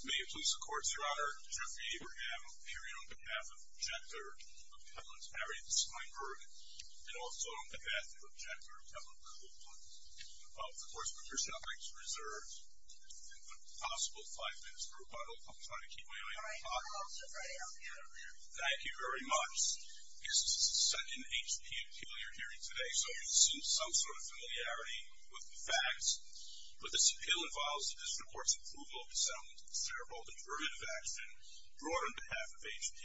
May it please the courts, Your Honor, Geoffrey Abraham appearing on behalf of Jekyll of Hewlett-Packard and Steinberg, and also on behalf of Jekyll of Hewlett-Packard. Of course, Patricia, I'd like to reserve the possible five minutes for rebuttal. I'm trying to keep my eye on the clock. Thank you very much. This is set in H.P. appeal you're hearing today, so you've seen some sort of familiarity with the facts. But this appeal involves the district court's approval of the settlement of the shareholding perjurative action brought on behalf of H.P.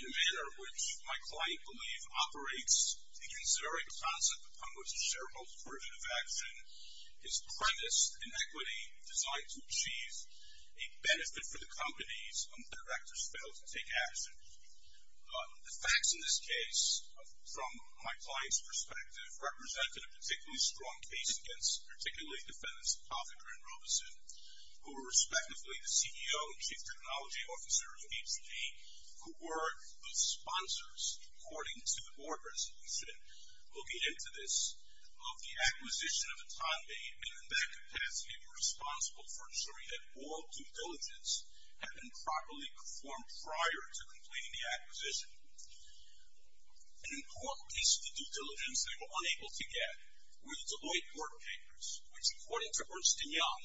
in a manner which my client believes operates against the very concept upon which the shareholding perjurative action is premised in equity designed to achieve a benefit for the companies when the directors fail to take action. The facts in this case, from my client's perspective, represent a particularly strong case against particularly defendants, Hoffinger and Robeson, who were respectively the CEO and Chief Technology Officer of H.P., who were the sponsors, according to the board resolution located into this, of the acquisition of a time made and in that capacity were responsible for ensuring that all due diligence had been properly performed prior to completing the acquisition. An important piece of due diligence they were unable to get were the Deloitte board papers, which according to Ernst & Young,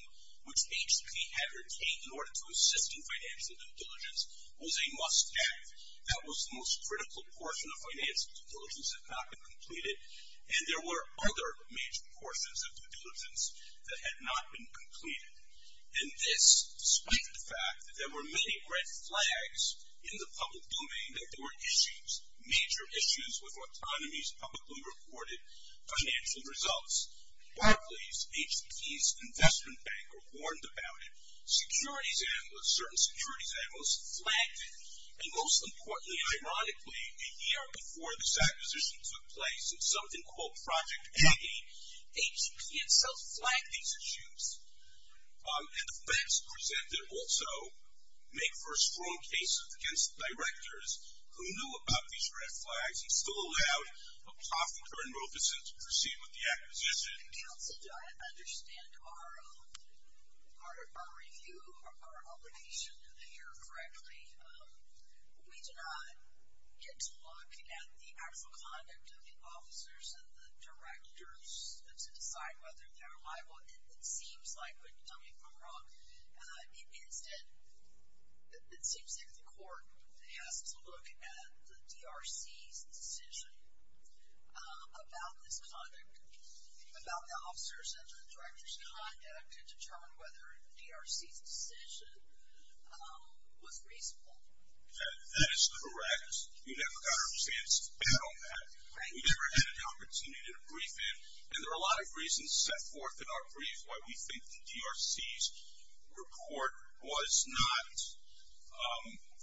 which H.P. had retained in order to assist in financial due diligence, was a must-have. That was the most critical portion of financial due diligence that had not been completed, and there were other major portions of due diligence that had not been completed. And this, despite the fact that there were many red flags in the public domain that there were issues, major issues with Autonomy's publicly reported financial results. Barclays, H.P.'s investment banker, warned about it. Certain securities analysts flagged it, and most importantly, ironically, a year before this acquisition took place in something called Project A, H.P. himself flagged these issues. And the facts presented also make for a strong case against the directors who knew about these red flags and still allowed a profiteer in Robeson to proceed with the acquisition. The council did not understand our review, our obligation to the year correctly. We do not get to look at the actual conduct of the officers and the directors to decide whether they are liable. It seems like, and tell me if I'm wrong, it seems like the court has to look at the DRC's decision about this conduct, about the officers and the directors' conduct and determine whether DRC's decision was reasonable. That is correct. We never got our chance to battle that. We never had an opportunity to brief it. And there are a lot of reasons set forth in our brief why we think the DRC's report was not, he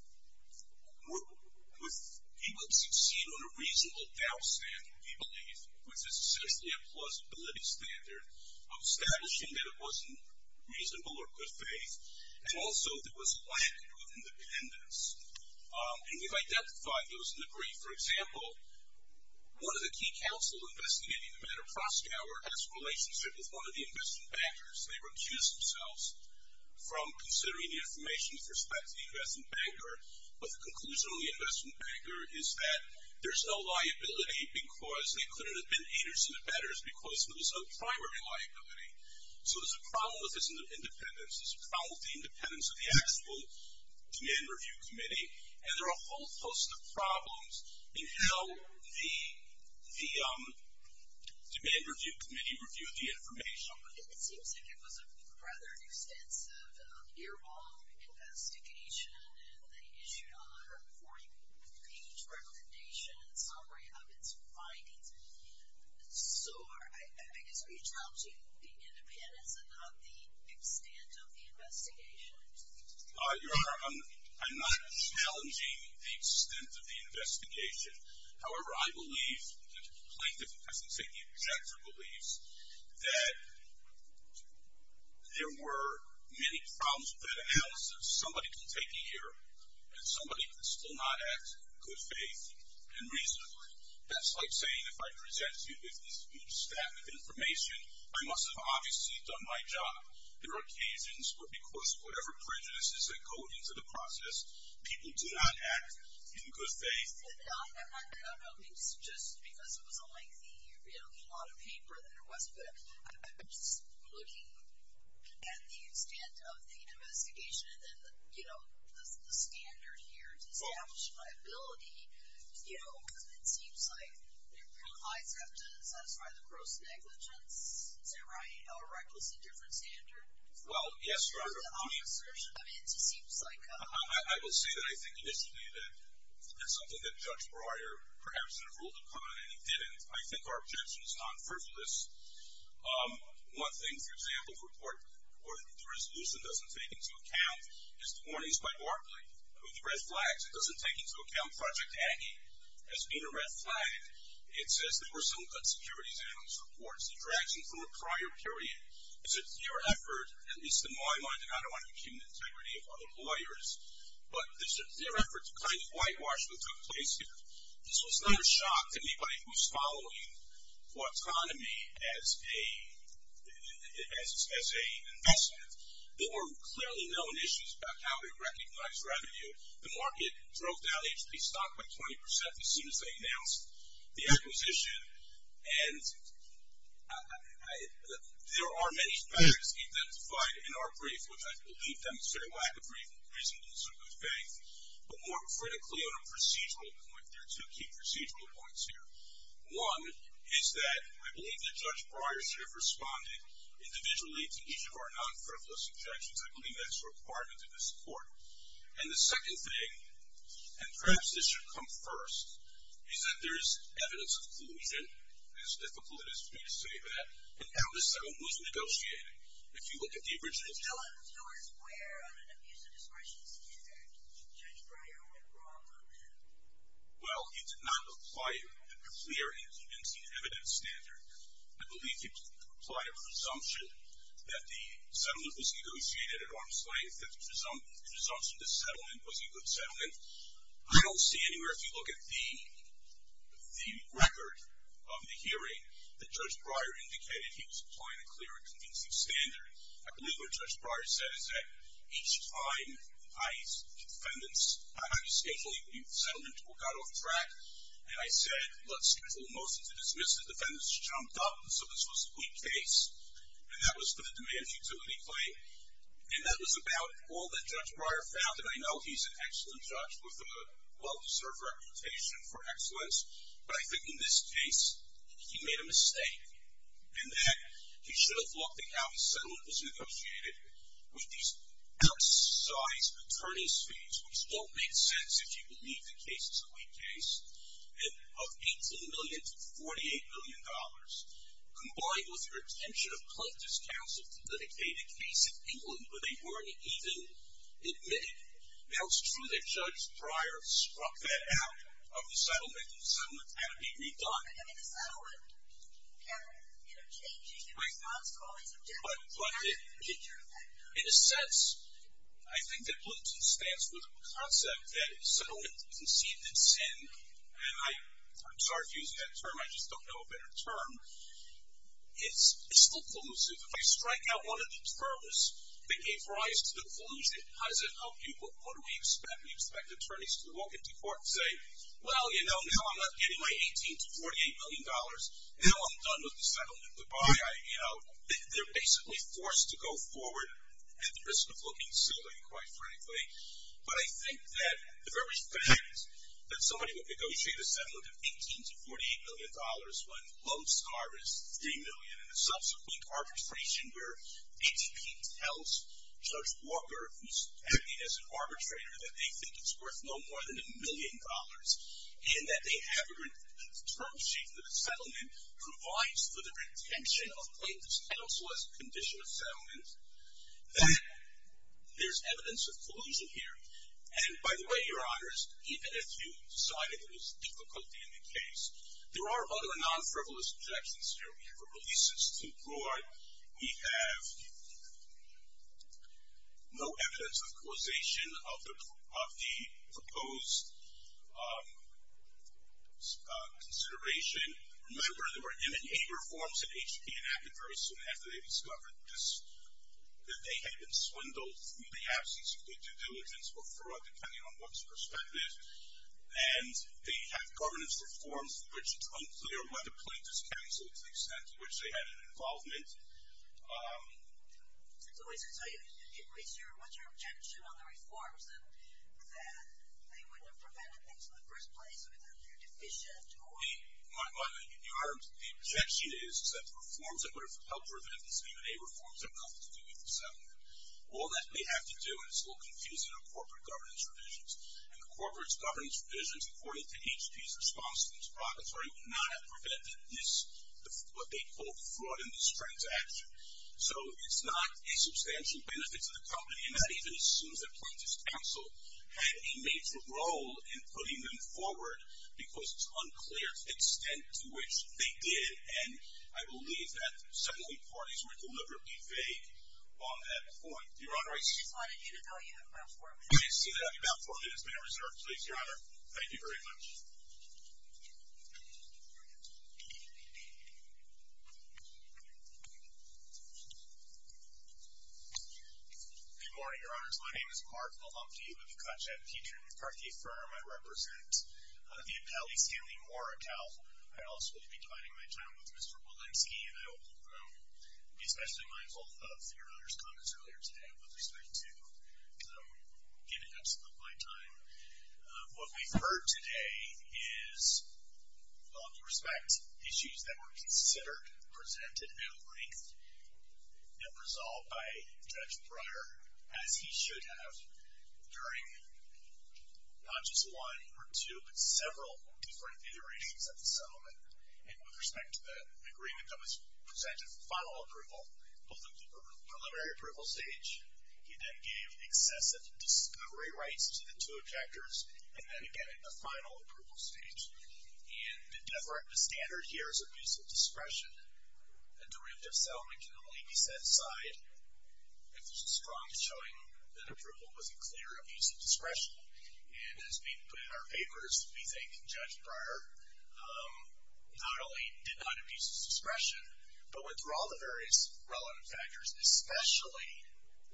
would succeed on a reasonable doubt standard, we believe, which is essentially a plausibility standard of establishing that it wasn't reasonable or good faith, and also that it was flagged with independence. And we've identified those in the brief. For example, one of the key counsels investigating the matter of Prostower has a relationship with one of the investment bankers. They recuse themselves from considering the information with respect to the investment banker, but the conclusion of the investment banker is that there's no liability because they could have been haters to the bettors because there was no primary liability. So there's a problem with this independence. There's a problem with the independence of the actual Demand Review Committee. And there are a whole host of problems in how the Demand Review Committee reviewed the information. It seems like it was a rather extensive, year-long investigation, and they issued a 140-page recommendation in summary of its findings. So I guess are you challenging the independence and not the extent of the investigation? Your Honor, I'm not challenging the extent of the investigation. However, I believe the plaintiff, I should say the objector, that there were many problems with that analysis. Somebody can take a year, and somebody could still not act in good faith and reasonably. That's like saying if I present you with this new stack of information, I must have obviously done my job. There are occasions where because of whatever prejudices that go into the process, people do not act in good faith. I'm not doubting just because it was a lengthy lot of paper that it was, but I'm just looking at the extent of the investigation and then the standard here to establish a liability, because it seems like it provides evidence to satisfy the gross negligence. Is that right? Or is that a different standard? Well, yes, Your Honor. I mean, it just seems like – I will say that I think initially that that's something that Judge Breyer perhaps had ruled upon, and he didn't. I think our objection is non-frivolous. One thing, for example, the resolution doesn't take into account is the warnings by Barclay with the red flags. It doesn't take into account Project Aggie has been a red flag. It says there were some insecurities in those reports. It drags you from a prior period. It's a dear effort, at least in my mind, and I don't want to accumulate the integrity of other lawyers, but it's a dear effort to claim that whitewashing took place here. This was not a shock to anybody who's following autonomy as a investment. There were clearly known issues about how we recognize revenue. The market drove down HP stock by 20% as soon as they announced the acquisition, and there are many factors identified in our brief, which I believe demonstrate why I agree with reason and some good faith, but more critically on a procedural point. There are two key procedural points here. One is that I believe that Judge Breyer should have responded individually to each of our non-frivolous objections. I believe that's a requirement in this court. And the second thing, and perhaps this should come first, is that there's evidence of collusion, as difficult it is for me to say that, and how the settlement was negotiated. If you look at the original. Well, he did not apply a clear and convincing evidence standard. I believe he applied a presumption that the settlement was negotiated at arm's length, that the presumption of the settlement was a good settlement. I don't see anywhere, if you look at the record of the hearing, that Judge Breyer indicated he was applying a clear and convincing standard. I believe what Judge Breyer said is that each time I asked defendants, how do you schedule a youth settlement, who got off track? And I said, let's schedule a motion to dismiss. The defendants jumped up and said this was a weak case. And that was for the demand futility claim. And that was about all that Judge Breyer found. And I know he's an excellent judge with a well-deserved reputation for excellence. But I think in this case, he made a mistake in that he should have looked at how the settlement was negotiated with these outsized attorney's fees, which don't make sense if you believe the case is a weak case, of $18 million to $48 million, combined with the retention of plaintiff's counsel to dedicate a case in England where they weren't even admitted. Now, it's true that Judge Breyer struck that out of the settlement. The settlement had to be redone. I mean, the settlement had to be interchanging in response to all these objectives. But in a sense, I think that Bluton's stance was a concept that if settlement is conceived in sin, and I'm sorry to use that term, I just don't know a better term, it's still collusive. If I strike out one of the terms that gave rise to the collusion, how does that help you? What do we expect? We expect attorneys to walk into court and say, well, you know, now I'm not getting my $18 million to $48 million. Now I'm done with the settlement. You know, they're basically forced to go forward at the risk of looking silly, quite frankly. But I think that the very fact that somebody would negotiate a settlement of $18 million to $48 million when most are at $3 million in a subsequent arbitration where ATP tells Judge Walker, who's acting as an arbitrator, that they think it's worth no more than $1 million, and that they have a term sheet that the settlement provides for the retention of plaintiffs' counsel as a condition of settlement, that there's evidence of collusion here. And by the way, Your Honors, even if you decided it was difficulty in the case, there are other non-frivolous objections here. We have a release that's too broad. We have no evidence of causation of the proposed consideration. Remember, there were M&A reforms at HP and Aken very soon after they discovered this, that they had been swindled through the absence of due diligence or fraud, depending on one's perspective. And they have governance reforms for which it's unclear why the plaintiffs' counsel, to the extent to which they had an involvement. So what's your objection on the reforms, that they wouldn't have prevented things in the first place, or that they're deficient? Your Honor, the objection is that the reforms that would have helped prevent these M&A reforms have nothing to do with the settlement. All that they have to do, and it's a little confusing, are corporate governance revisions. And the corporate governance revisions, according to HP's response to the proprietary, would not have prevented this, what they call fraud in this transaction. So it's not a substantial benefit to the company, and that even assumes that plaintiffs' counsel had a major role in putting them forward because it's unclear to the extent to which they did. And I believe that some of the parties were deliberately vague on that point. Your Honor, I just wanted you to know you have about four minutes. I do see that I have about four minutes. May I reserve, please, Your Honor? Thank you very much. Good morning, Your Honors. My name is Mark Malumke with the Conchette Petri Party Firm. I represent the appellee, Stanley Moore, account. I also will be dividing my time with Mr. Walensky, and I will be especially mindful of Your Honor's comments earlier today with respect to getting up some of my time. What we've heard today is, with all due respect, issues that were considered, presented at length, and resolved by Judge Breyer, as he should have, during not just one or two, but several different iterations of the settlement. And with respect to the agreement that was presented for final approval, both at the preliminary approval stage, he then gave excessive discovery rights to the two objectors, and then again at the final approval stage. And the standard here is abuse of discretion. A derivative settlement can only be set aside if there's a strong showing that approval was a clear abuse of discretion. And as we put in our papers, we think Judge Breyer not only did not abuse his discretion, but went through all the various relevant factors, especially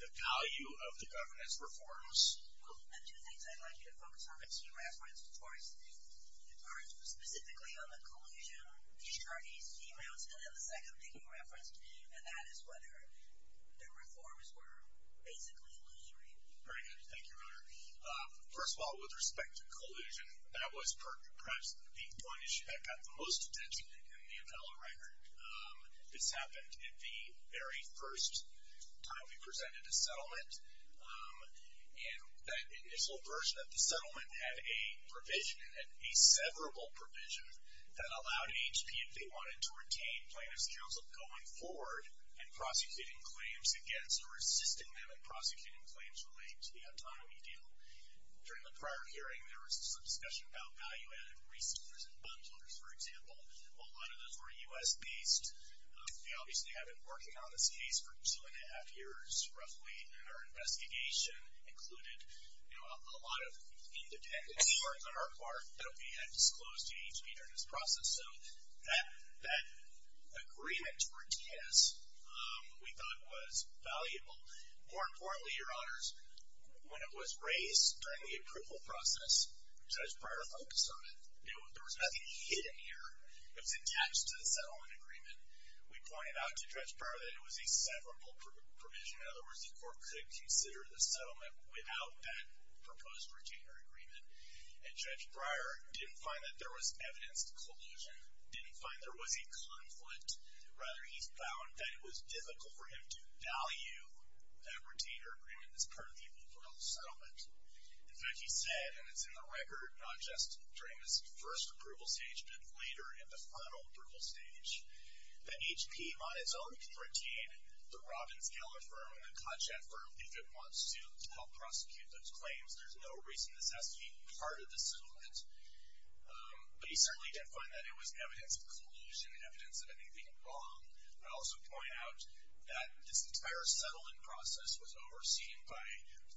the value of the governance reforms. Well, there are two things I'd like you to focus on. The first was specifically on the collusion, the attorneys' emails, and then the second thing you referenced, and that is whether the reforms were basically illusory. Very good. Thank you, Your Honor. First of all, with respect to collusion, that was perhaps the one issue that got the most attention in the appellate record. This happened at the very first time we presented a settlement. And that initial version of the settlement had a provision, a severable provision that allowed HP if they wanted to retain plaintiffs' counsel going forward and prosecuting claims against or assisting them in prosecuting claims related to the autonomy deal. During the prior hearing, there was some discussion about value-added rescinders and bundlers, for example. A lot of those were U.S.-based. Obviously, I've been working on this case for two-and-a-half years, roughly, and our investigation included a lot of independent reports on our part that we had disclosed to HP during this process. So that agreement to retain us, we thought, was valuable. More importantly, Your Honors, when it was raised during the approval process, such prior focus on it, there was nothing hidden here. It was attached to the settlement agreement. We pointed out to Judge Breyer that it was a severable provision. In other words, the court could consider the settlement without that proposed retainer agreement. And Judge Breyer didn't find that there was evidence of collusion, didn't find there was a conflict. Rather, he found that it was difficult for him to value that retainer agreement as part of the overall settlement. In fact, he said, and it's in the record, not just during this first approval stage, but later in the final approval stage, that HP, on its own, can retain the Robbins-Geller firm and the Kotchak firm if it wants to help prosecute those claims. There's no reason this has to be part of the settlement. But he certainly didn't find that it was evidence of collusion, evidence of anything wrong. I also point out that this entire settlement process was overseen by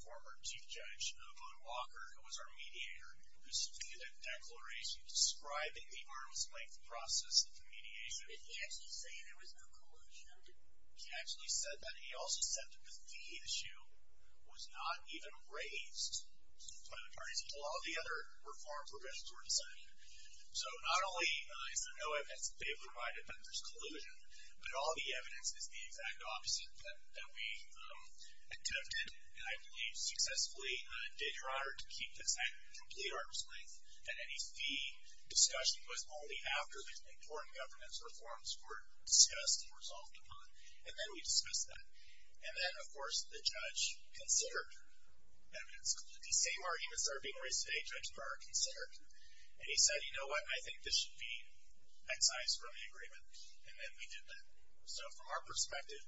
former Chief Judge Boone Walker, who was our mediator, who submitted a declaration describing the arm's-length process of the mediation. Did he actually say there was no collusion? He actually said that. He also said that the fee issue was not even raised by the parties until all the other reform provisions were decided. So not only is there no evidence that they've provided that there's collusion, but all the evidence is the exact opposite, that we attempted, and I believe successfully did, Your Honor, to keep this at complete arm's-length, that any fee discussion was only after the important governance reforms were discussed and resolved upon. And then we discussed that. And then, of course, the judge considered evidence of collusion. The same arguments that are being raised today, Judge Breyer considered. And he said, you know what, I think this should be excised from the agreement. And then we did that. So from our perspective,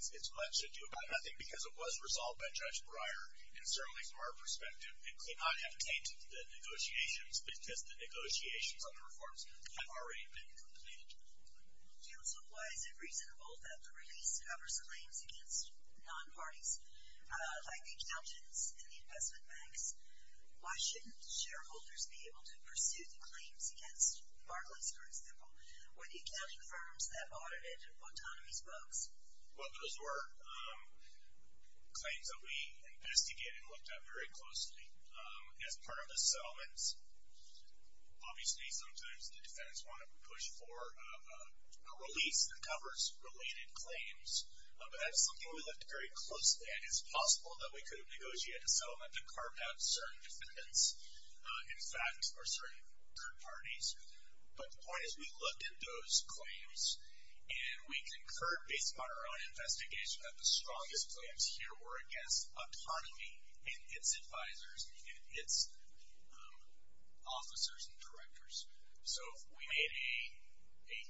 it's much ado about nothing because it was resolved by Judge Breyer. And certainly from our perspective, it could not have tainted the negotiations because the negotiations on the reforms had already been completed. Counsel, why is it reasonable that the release covers claims against non-parties like the accountants and the investment banks? Why shouldn't shareholders be able to pursue the claims against Barclays, for example, or the accounting firms that audited autonomy's books? Well, those were claims that we investigated and looked at very closely. As part of the settlements, obviously sometimes the defendants want to push for a release that covers related claims. But that is something we looked very closely at. It's possible that we could have negotiated a settlement to carve out certain defendants, in fact, or certain third parties. But the point is, we looked at those claims, and we concurred based upon our own investigation that the strongest claims here were against autonomy and its advisors and its officers and directors. So we made a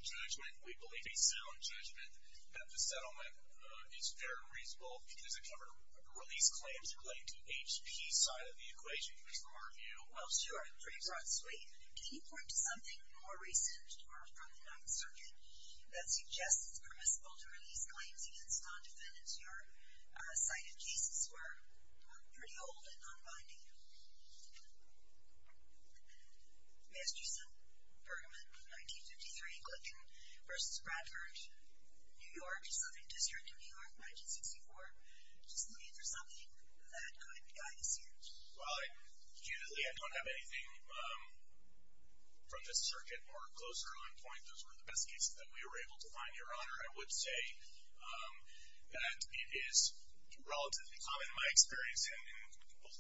judgment, we believe a sound judgment, that the settlement is very reasonable because it covered release claims relating to HP's side of the equation. Well, sure. Can you point to something more recent or from the 9th Circuit that suggests it's permissible to release claims against non-defendants who are cited cases who are pretty old and non-binding? Masterson, Bergman, 1953, Glicken v. Bradford, New York, 1964. Just look for something that could guide the search. Well, usually I don't have anything from this circuit or closer on point. Those were the best cases that we were able to find, Your Honor. I would say that it is relatively common in my experience in both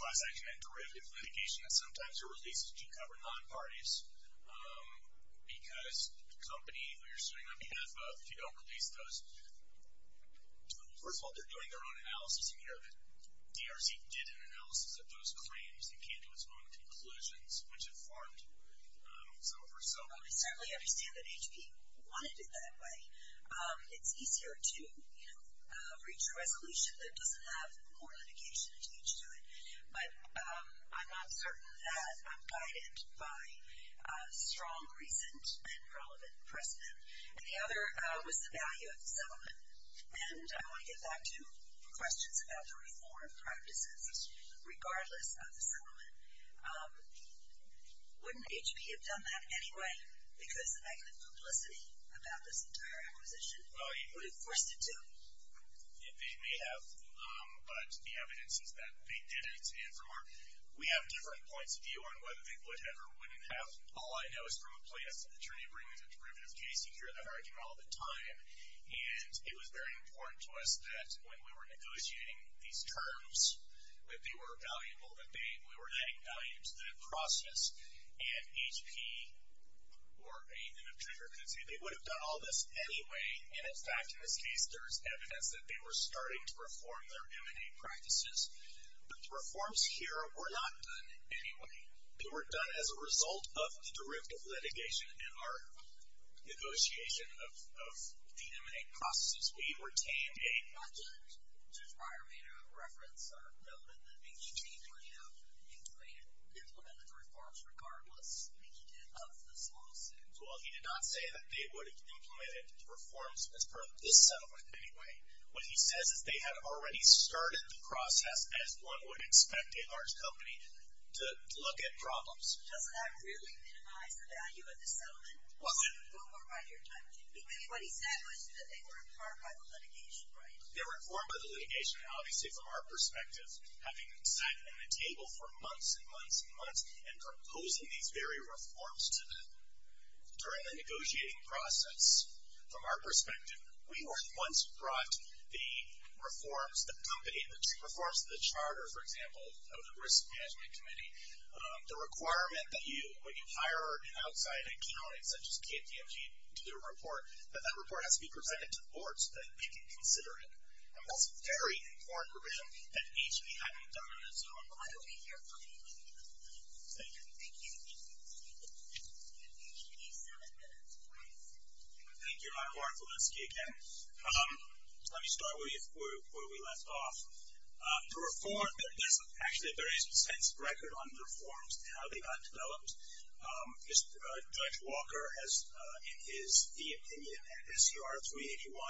class action and derivative litigation that sometimes a release is due to cover non-parties because the company who you're suing on behalf of, if you don't release those, first of all, they're doing their own analysis. And, you know, DRC did an analysis of those claims and came to its own conclusions, which informed some of our settlement. I certainly understand that HP wanted it that way. It's easier to, you know, reach a resolution that doesn't have more litigation attached to it. But I'm not certain of that. I'm guided by strong recent and relevant precedent. And the other was the value of the settlement. And I want to get back to questions about the reform practices, regardless of the settlement. Wouldn't HP have done that anyway because of negative publicity about this entire acquisition? Would it have forced it to? They may have, but the evidence is that they didn't. We have different points of view on whether they would have or wouldn't have. All I know is from a plaintiff's attorney bringing a derivative case, you hear that argument all the time. And it was very important to us that when we were negotiating these terms, that they were valuable, that we were adding value to that process. And HP or any kind of trader could say they would have done all this anyway. And, in fact, in this case, there's evidence that they were starting to reform their M&A practices. But the reforms here were not done anyway. They were done as a result of the derivative litigation and our negotiation of the M&A processes. We retained a budget. Judge Breyer made a reference, noted that HP would have implemented the reforms, regardless of this lawsuit. Well, he did not say that they would have implemented the reforms as part of this settlement anyway. What he says is they had already started the process, as one would expect a large company to look at problems. Does that really minimize the value of the settlement? Well, what he said was that they were informed by the litigation, right? They were informed by the litigation, obviously, from our perspective, having sat at a table for months and months and months and proposing these very reforms to them. During the negotiating process, from our perspective, we were the ones who brought the reforms, the company, and the two reforms to the charter, for example, of the Risk Management Committee. The requirement that when you hire an outside accounting, such as KPMG, to do a report, that that report has to be presented to the board so that they can consider it. And that's a very important provision that HP hadn't done in its own right. We'll be here for you. Thank you. Thank you. You have HP seven minutes. Thank you. I'm Mark Walensky again. Let me start where we left off. The reform, there's actually a very extensive record on reforms and how they got developed. Judge Walker, in his opinion, in his CR 381,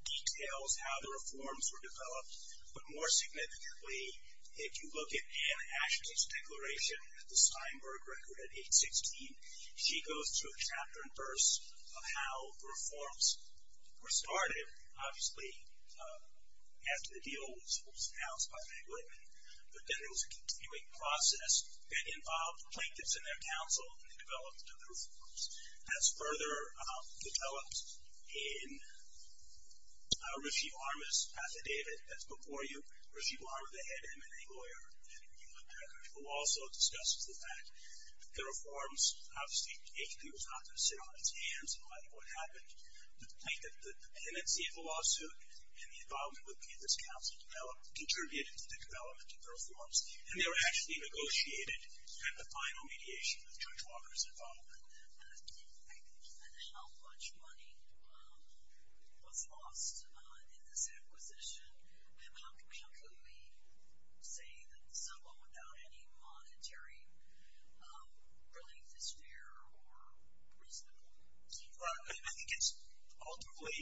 details how the reforms were developed. But more significantly, if you look at Anne Aschke's declaration, the Steinberg record at age 16, she goes through a chapter and verse of how reforms were started, obviously, after the deal was announced by Meg Whitman. But then there was a continuing process that involved plaintiffs and their counsel in the development of the reforms. That's further developed in a refute armist affidavit that's before you, a refute arm of the head MNA lawyer who also discusses the fact that the reforms, obviously, HP was not going to sit on its hands and let what happened. The plaintiff, the tenancy of the lawsuit and the involvement with the counsel contributed to the development of the reforms. And they were actually negotiated at the final mediation with Judge Walker's involvement. And how much money was lost in this acquisition? And how can we say that the settlement without any monetary relief is fair or reasonable? I think it's ultimately,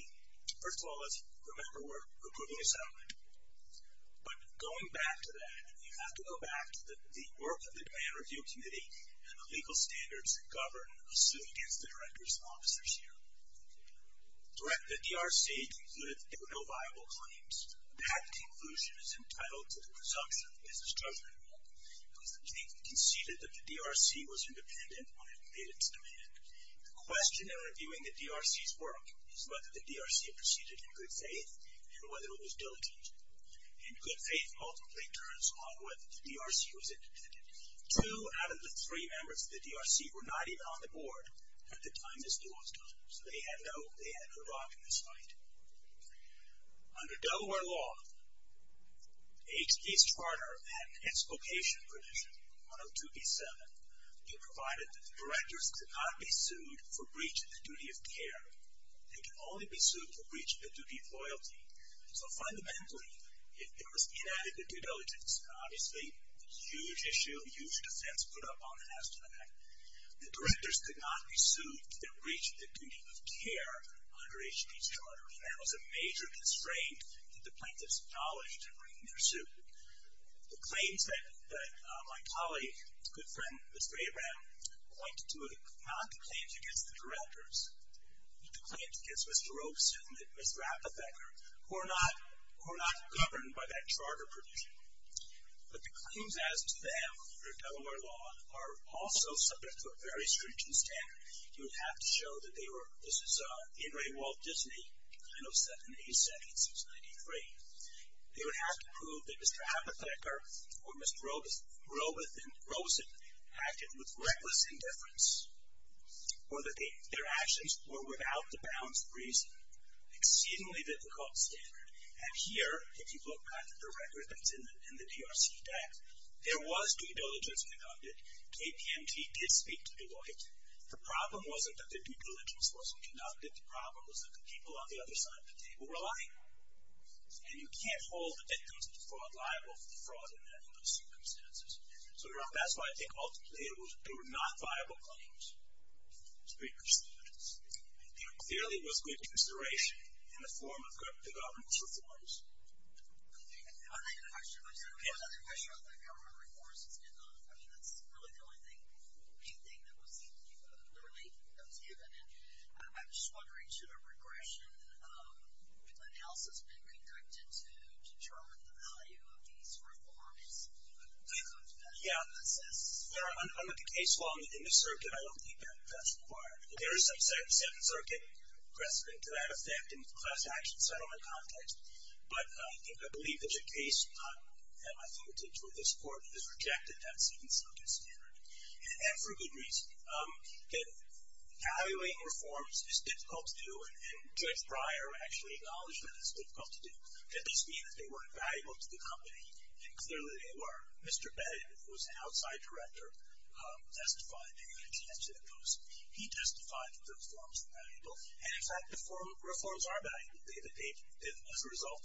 first of all, let's remember we're recouping the settlement. But going back to that, you have to go back to the work of the Grand Review Committee and the legal standards that govern a suit against the directors and officers here. The DRC concluded that there were no viable claims. That conclusion is entitled to the presumption of business judgment because the plaintiff conceded that the DRC was independent when it made its demand. The question in reviewing the DRC's work is whether the DRC proceeded in good faith and whether it was diligent. And good faith multiply turns on whether the DRC was independent. Two out of the three members of the DRC were not even on the board at the time this law was done. So they had no rock in this fight. Under Delaware law, H.P.'s Charter and Expocation Prohibition, 102B7, provided that the directors could not be sued for breach of the duty of care. They could only be sued for breach of the duty of loyalty. So fundamentally, if there was inadequate due diligence, and obviously a huge issue, a huge defense put up on an astronaut, the directors could not be sued for breach of the duty of care under H.P.'s Charter. And that was a major constraint that the plaintiffs acknowledged in bringing their suit. The claims that my colleague, good friend, Mr. Abraham, pointed to were not the claims against the directors, but the claims against Mr. Robeson and Ms. Rappaphecker, who are not governed by that charter provision. But the claims as to them, under Delaware law, are also subject to a very stringent standard. You would have to show that they were, this is In re Walt Disney, 907A, section 693. They would have to prove that Mr. Rappaphecker, or Mr. Robeson, acted with reckless indifference, or that their actions were without the bounds of reason. Exceedingly difficult standard. And here, if you look at the record that's in the DRC Act, there was due diligence conducted. KPMG did speak to Deloitte. The problem wasn't that the due diligence wasn't conducted. The problem was that the people on the other side of the table were lying. And you can't hold the victims of the fraud liable for the fraud in those circumstances. So that's why I think ultimately they were not viable claims. Speakers. Clearly it was good consideration in the form of the government's reforms. I have a question. I just have another question about government reforms. I mean, that's really the only main thing that was given. And I'm just wondering, should a regression analysis be conducted to determine the value of these reforms? Yeah. I'm with the case law in the circuit. I don't think that that's required. There is some second circuit precedent to that effect in the class action settlement context. But I believe that's a case not at my fingertips where this Court has rejected that second circuit standard. And for good reason. Evaluating reforms is difficult to do, and Judge Breyer actually acknowledged that it's difficult to do. But this means they weren't valuable to the company, and clearly they were. Mr. Bennet, who was an outside director, testified to those. He testified that those reforms were valuable. And, in fact, the reforms are valuable. As a result of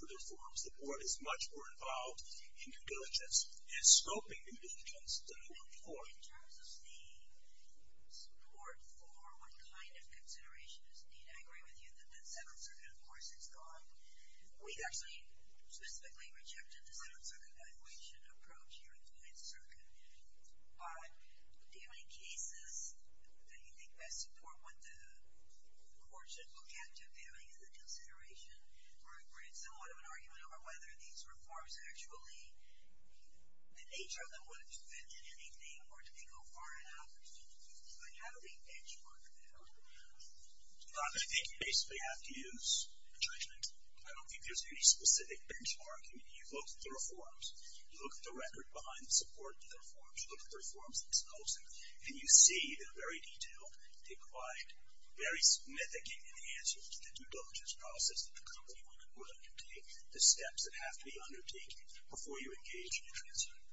those reforms, the Board is much more involved in due diligence and scoping due diligence than it was before. In terms of the support for what kind of consideration is needed, I agree with you that that second circuit, of course, is gone. We actually specifically rejected the second circuit evaluation approach here in the Ninth Circuit. But do you have any cases that you think best support what the Court should look at if they have any other consideration, where it's somewhat of an argument over whether these reforms actually, the nature of them would have prevented anything, or did they go far enough? How do they benchmark that? I think you basically have to use judgment. I don't think there's any specific benchmark. I mean, you look at the reforms. You look at the record behind the support of the reforms. You look at the reforms themselves, and you see they're very detailed. They provide very significant answers to the due diligence process that the company would undertake, the steps that have to be undertaken before you engage in the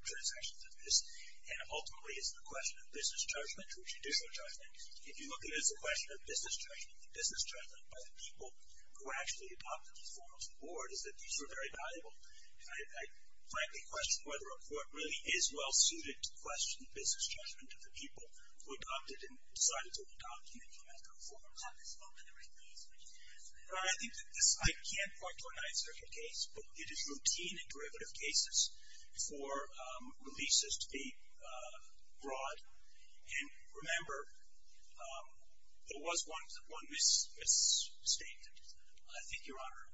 transactions of this. And, ultimately, it's a question of business judgment or judicial judgment. If you look at it as a question of business judgment, the business judgment by the people who actually adopted these reforms on board is that these were very valuable. And I frankly question whether a Court really is well-suited to question the business judgment of the people who adopted and decided to adopt these reforms. How do they support the release? I can't point to a Ninth Circuit case, but it is routine in derivative cases for releases to be broad. And, remember, there was one misstatement. I think, Your Honor,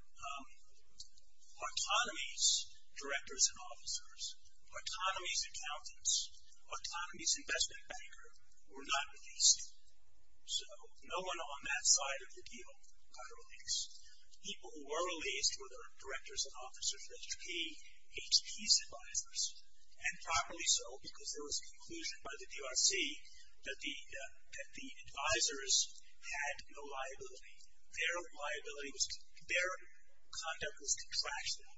autonomy's directors and officers, autonomy's accountants, autonomy's investment banker were not released. So no one on that side of the deal got released. People who were released were the directors and officers, HP's advisors, and probably so because there was a conclusion by the DRC that the advisors had no liability. Their conduct was contractual.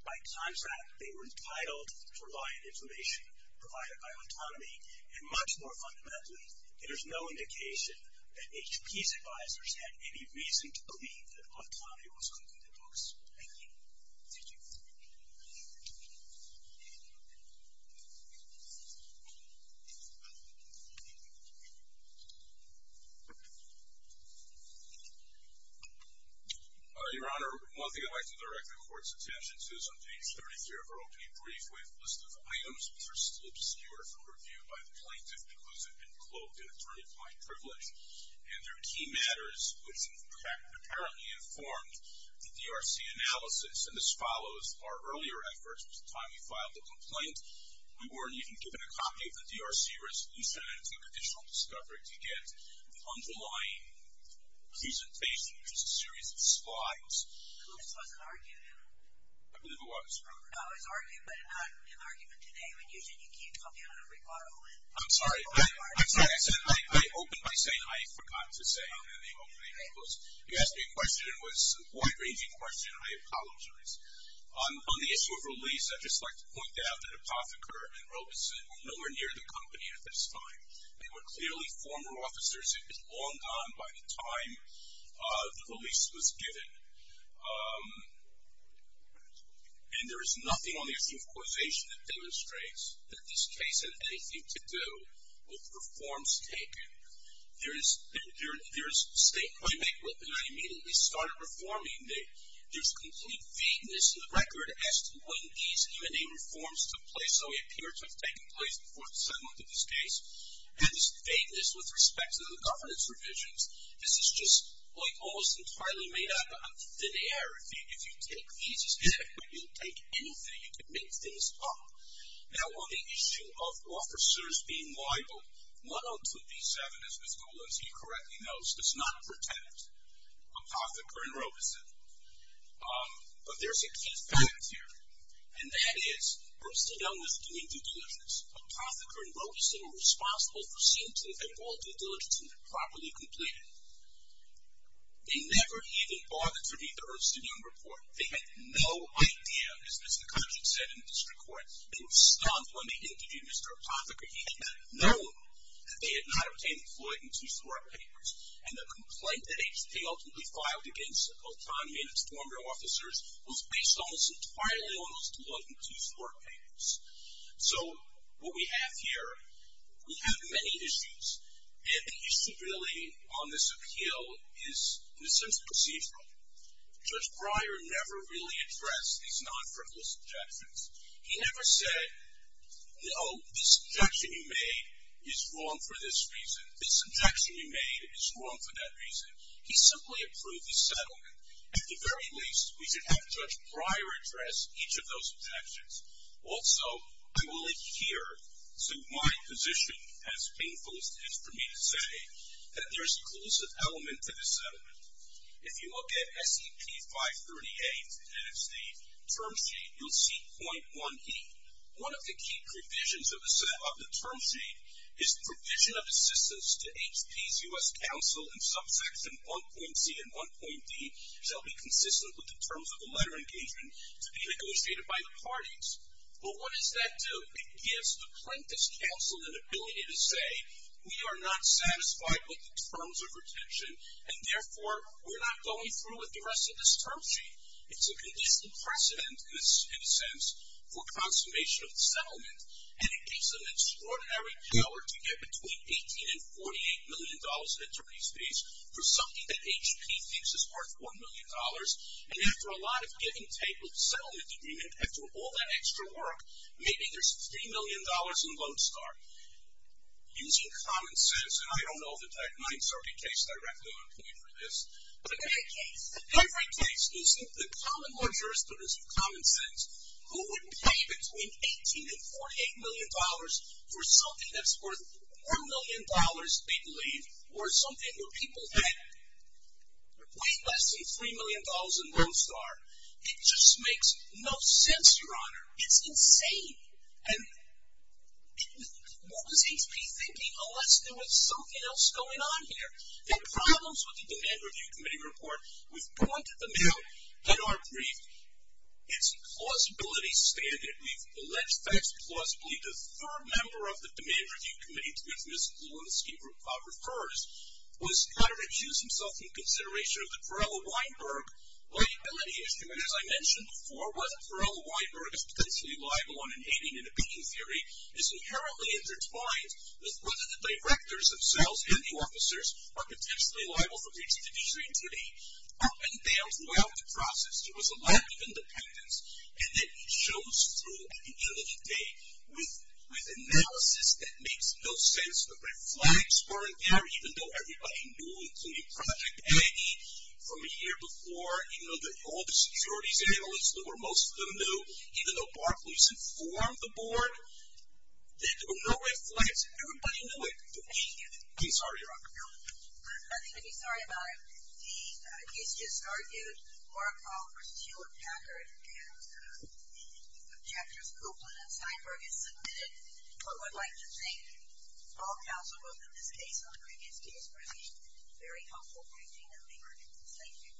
By contract, they were entitled for law and information provided by autonomy. And, much more fundamentally, there's no indication that HP's advisors had any reason to believe that autonomy was concluded. Thank you. Your Honor, one thing I'd like to direct the Court's attention to is on page 33 of our opening brief with a list of items which are still obscure from review by the plaintiff because they've been cloaked in attorney-applied privilege. And they're key matters which apparently informed the DRC analysis. And this follows our earlier efforts. By the time we filed the complaint, we weren't even given a copy of the DRC resolution and it took additional discovery to get the underlying keys and facing, which is a series of slides. I believe it was. I'm sorry. I'm sorry. I opened by saying I forgot to say in the opening. It was, you asked me a question. It was a wide-ranging question. I apologize. On the issue of release, I'd just like to point out that Apotheker and Robeson were nowhere near the company at this time. They were clearly former officers. It was long gone by the time the release was given. And there is nothing on the issue of causation that demonstrates that this case had anything to do with reforms taken. There is statement, and I immediately started reforming it. There's complete vagueness in the record as to when these M&A reforms took place, though they appear to have taken place before the settlement of this case, and this vagueness with respect to the governance revisions. This is just, like, almost entirely made up of thin air. If you take these, you'll take anything. You can make things up. Now, on the issue of officers being liable, 102B7, as Ms. Dolan, as he correctly knows, does not protect Apotheker and Robeson. But there's a key fact here, and that is Ernst & Young was doing due diligence. Apotheker and Robeson were responsible for seeing to it that all due diligence had been properly completed. They never even bothered to read the Ernst & Young report. They had no idea, as Mr. Cutchin said in the district court, they were stumped when they interviewed Mr. Apotheker. He had known that they had not obtained the Floyd & Tewsport papers, and the complaint that they ultimately filed against both time and former officers was based almost entirely on those Floyd & Tewsport papers. So what we have here, we have many issues, and the issue really on this appeal is, in a sense, procedural. Judge Breyer never really addressed these non-frivolous objections. He never said, no, this objection you made is wrong for this reason, this objection you made is wrong for that reason. He simply approved the settlement. At the very least, we should have Judge Breyer address each of those objections. Also, I will adhere to my position, as painful as it is for me to say, that there's a collusive element to the settlement. If you look at S.E.P. 538, and it's the term sheet, you'll see .1E. One of the key provisions of the term sheet is the provision of assistance to H.P.'s U.S. counsel in subsection 1.C and 1.D shall be consistent with the terms of the letter engagement to be negotiated by the parties. But what does that do? It gives the plaintiff's counsel an ability to say, we are not satisfied with the terms of retention, and therefore, we're not going through with the rest of this term sheet. It's a conditional precedent, in a sense, for consummation of the settlement, and it gives them extraordinary power to get between $18 and $48 million in attorney's fees for something that H.P. thinks is worth $1 million. And after a lot of giving table settlement agreement, after all that extra work, maybe there's $3 million in loan start. Using common sense, and I don't know if the 930 case directly went to me for this, but in that case, every case using the common law jurisprudence of common sense, who would pay between $18 and $48 million for something that's worth $1 million, we believe, or something where people had to pay less than $3 million in loan start? It just makes no sense, Your Honor. It's insane. And what was H.P. thinking? Oh, let's do it. Something else is going on here. There are problems with the Demand Review Committee report. We've pointed them out in our brief. It's a plausibility standard. We've alleged facts plausibly. The third member of the Demand Review Committee, to which Ms. Lewinsky refers, was trying to recuse himself from consideration of the Perella-Weinberg liability issue. And as I mentioned before, whether Perella-Weinberg is potentially liable on an aiding and abetting theory is inherently intertwined with whether the directors themselves and the officers are potentially liable for breach of the D3 treaty. Up and down throughout the process, there was a lack of independence, and it shows through at the end of the day. With analysis that makes no sense, the red flags weren't there, even though everybody knew, including Project Aggie, from a year before, even though all the securities analysts, or most of them knew, even though Barclays informed the board, there were no red flags. Everybody knew it. But we didn't. I'm sorry, Your Honor. There's nothing to be sorry about. He's just argued Markel versus Hewlett-Packard, and the objectives of Oakland and Steinberg is submitted. But what I'd like to think, all counsel votes in this case, on the previous case, have been very helpful for me in my work. Thank you.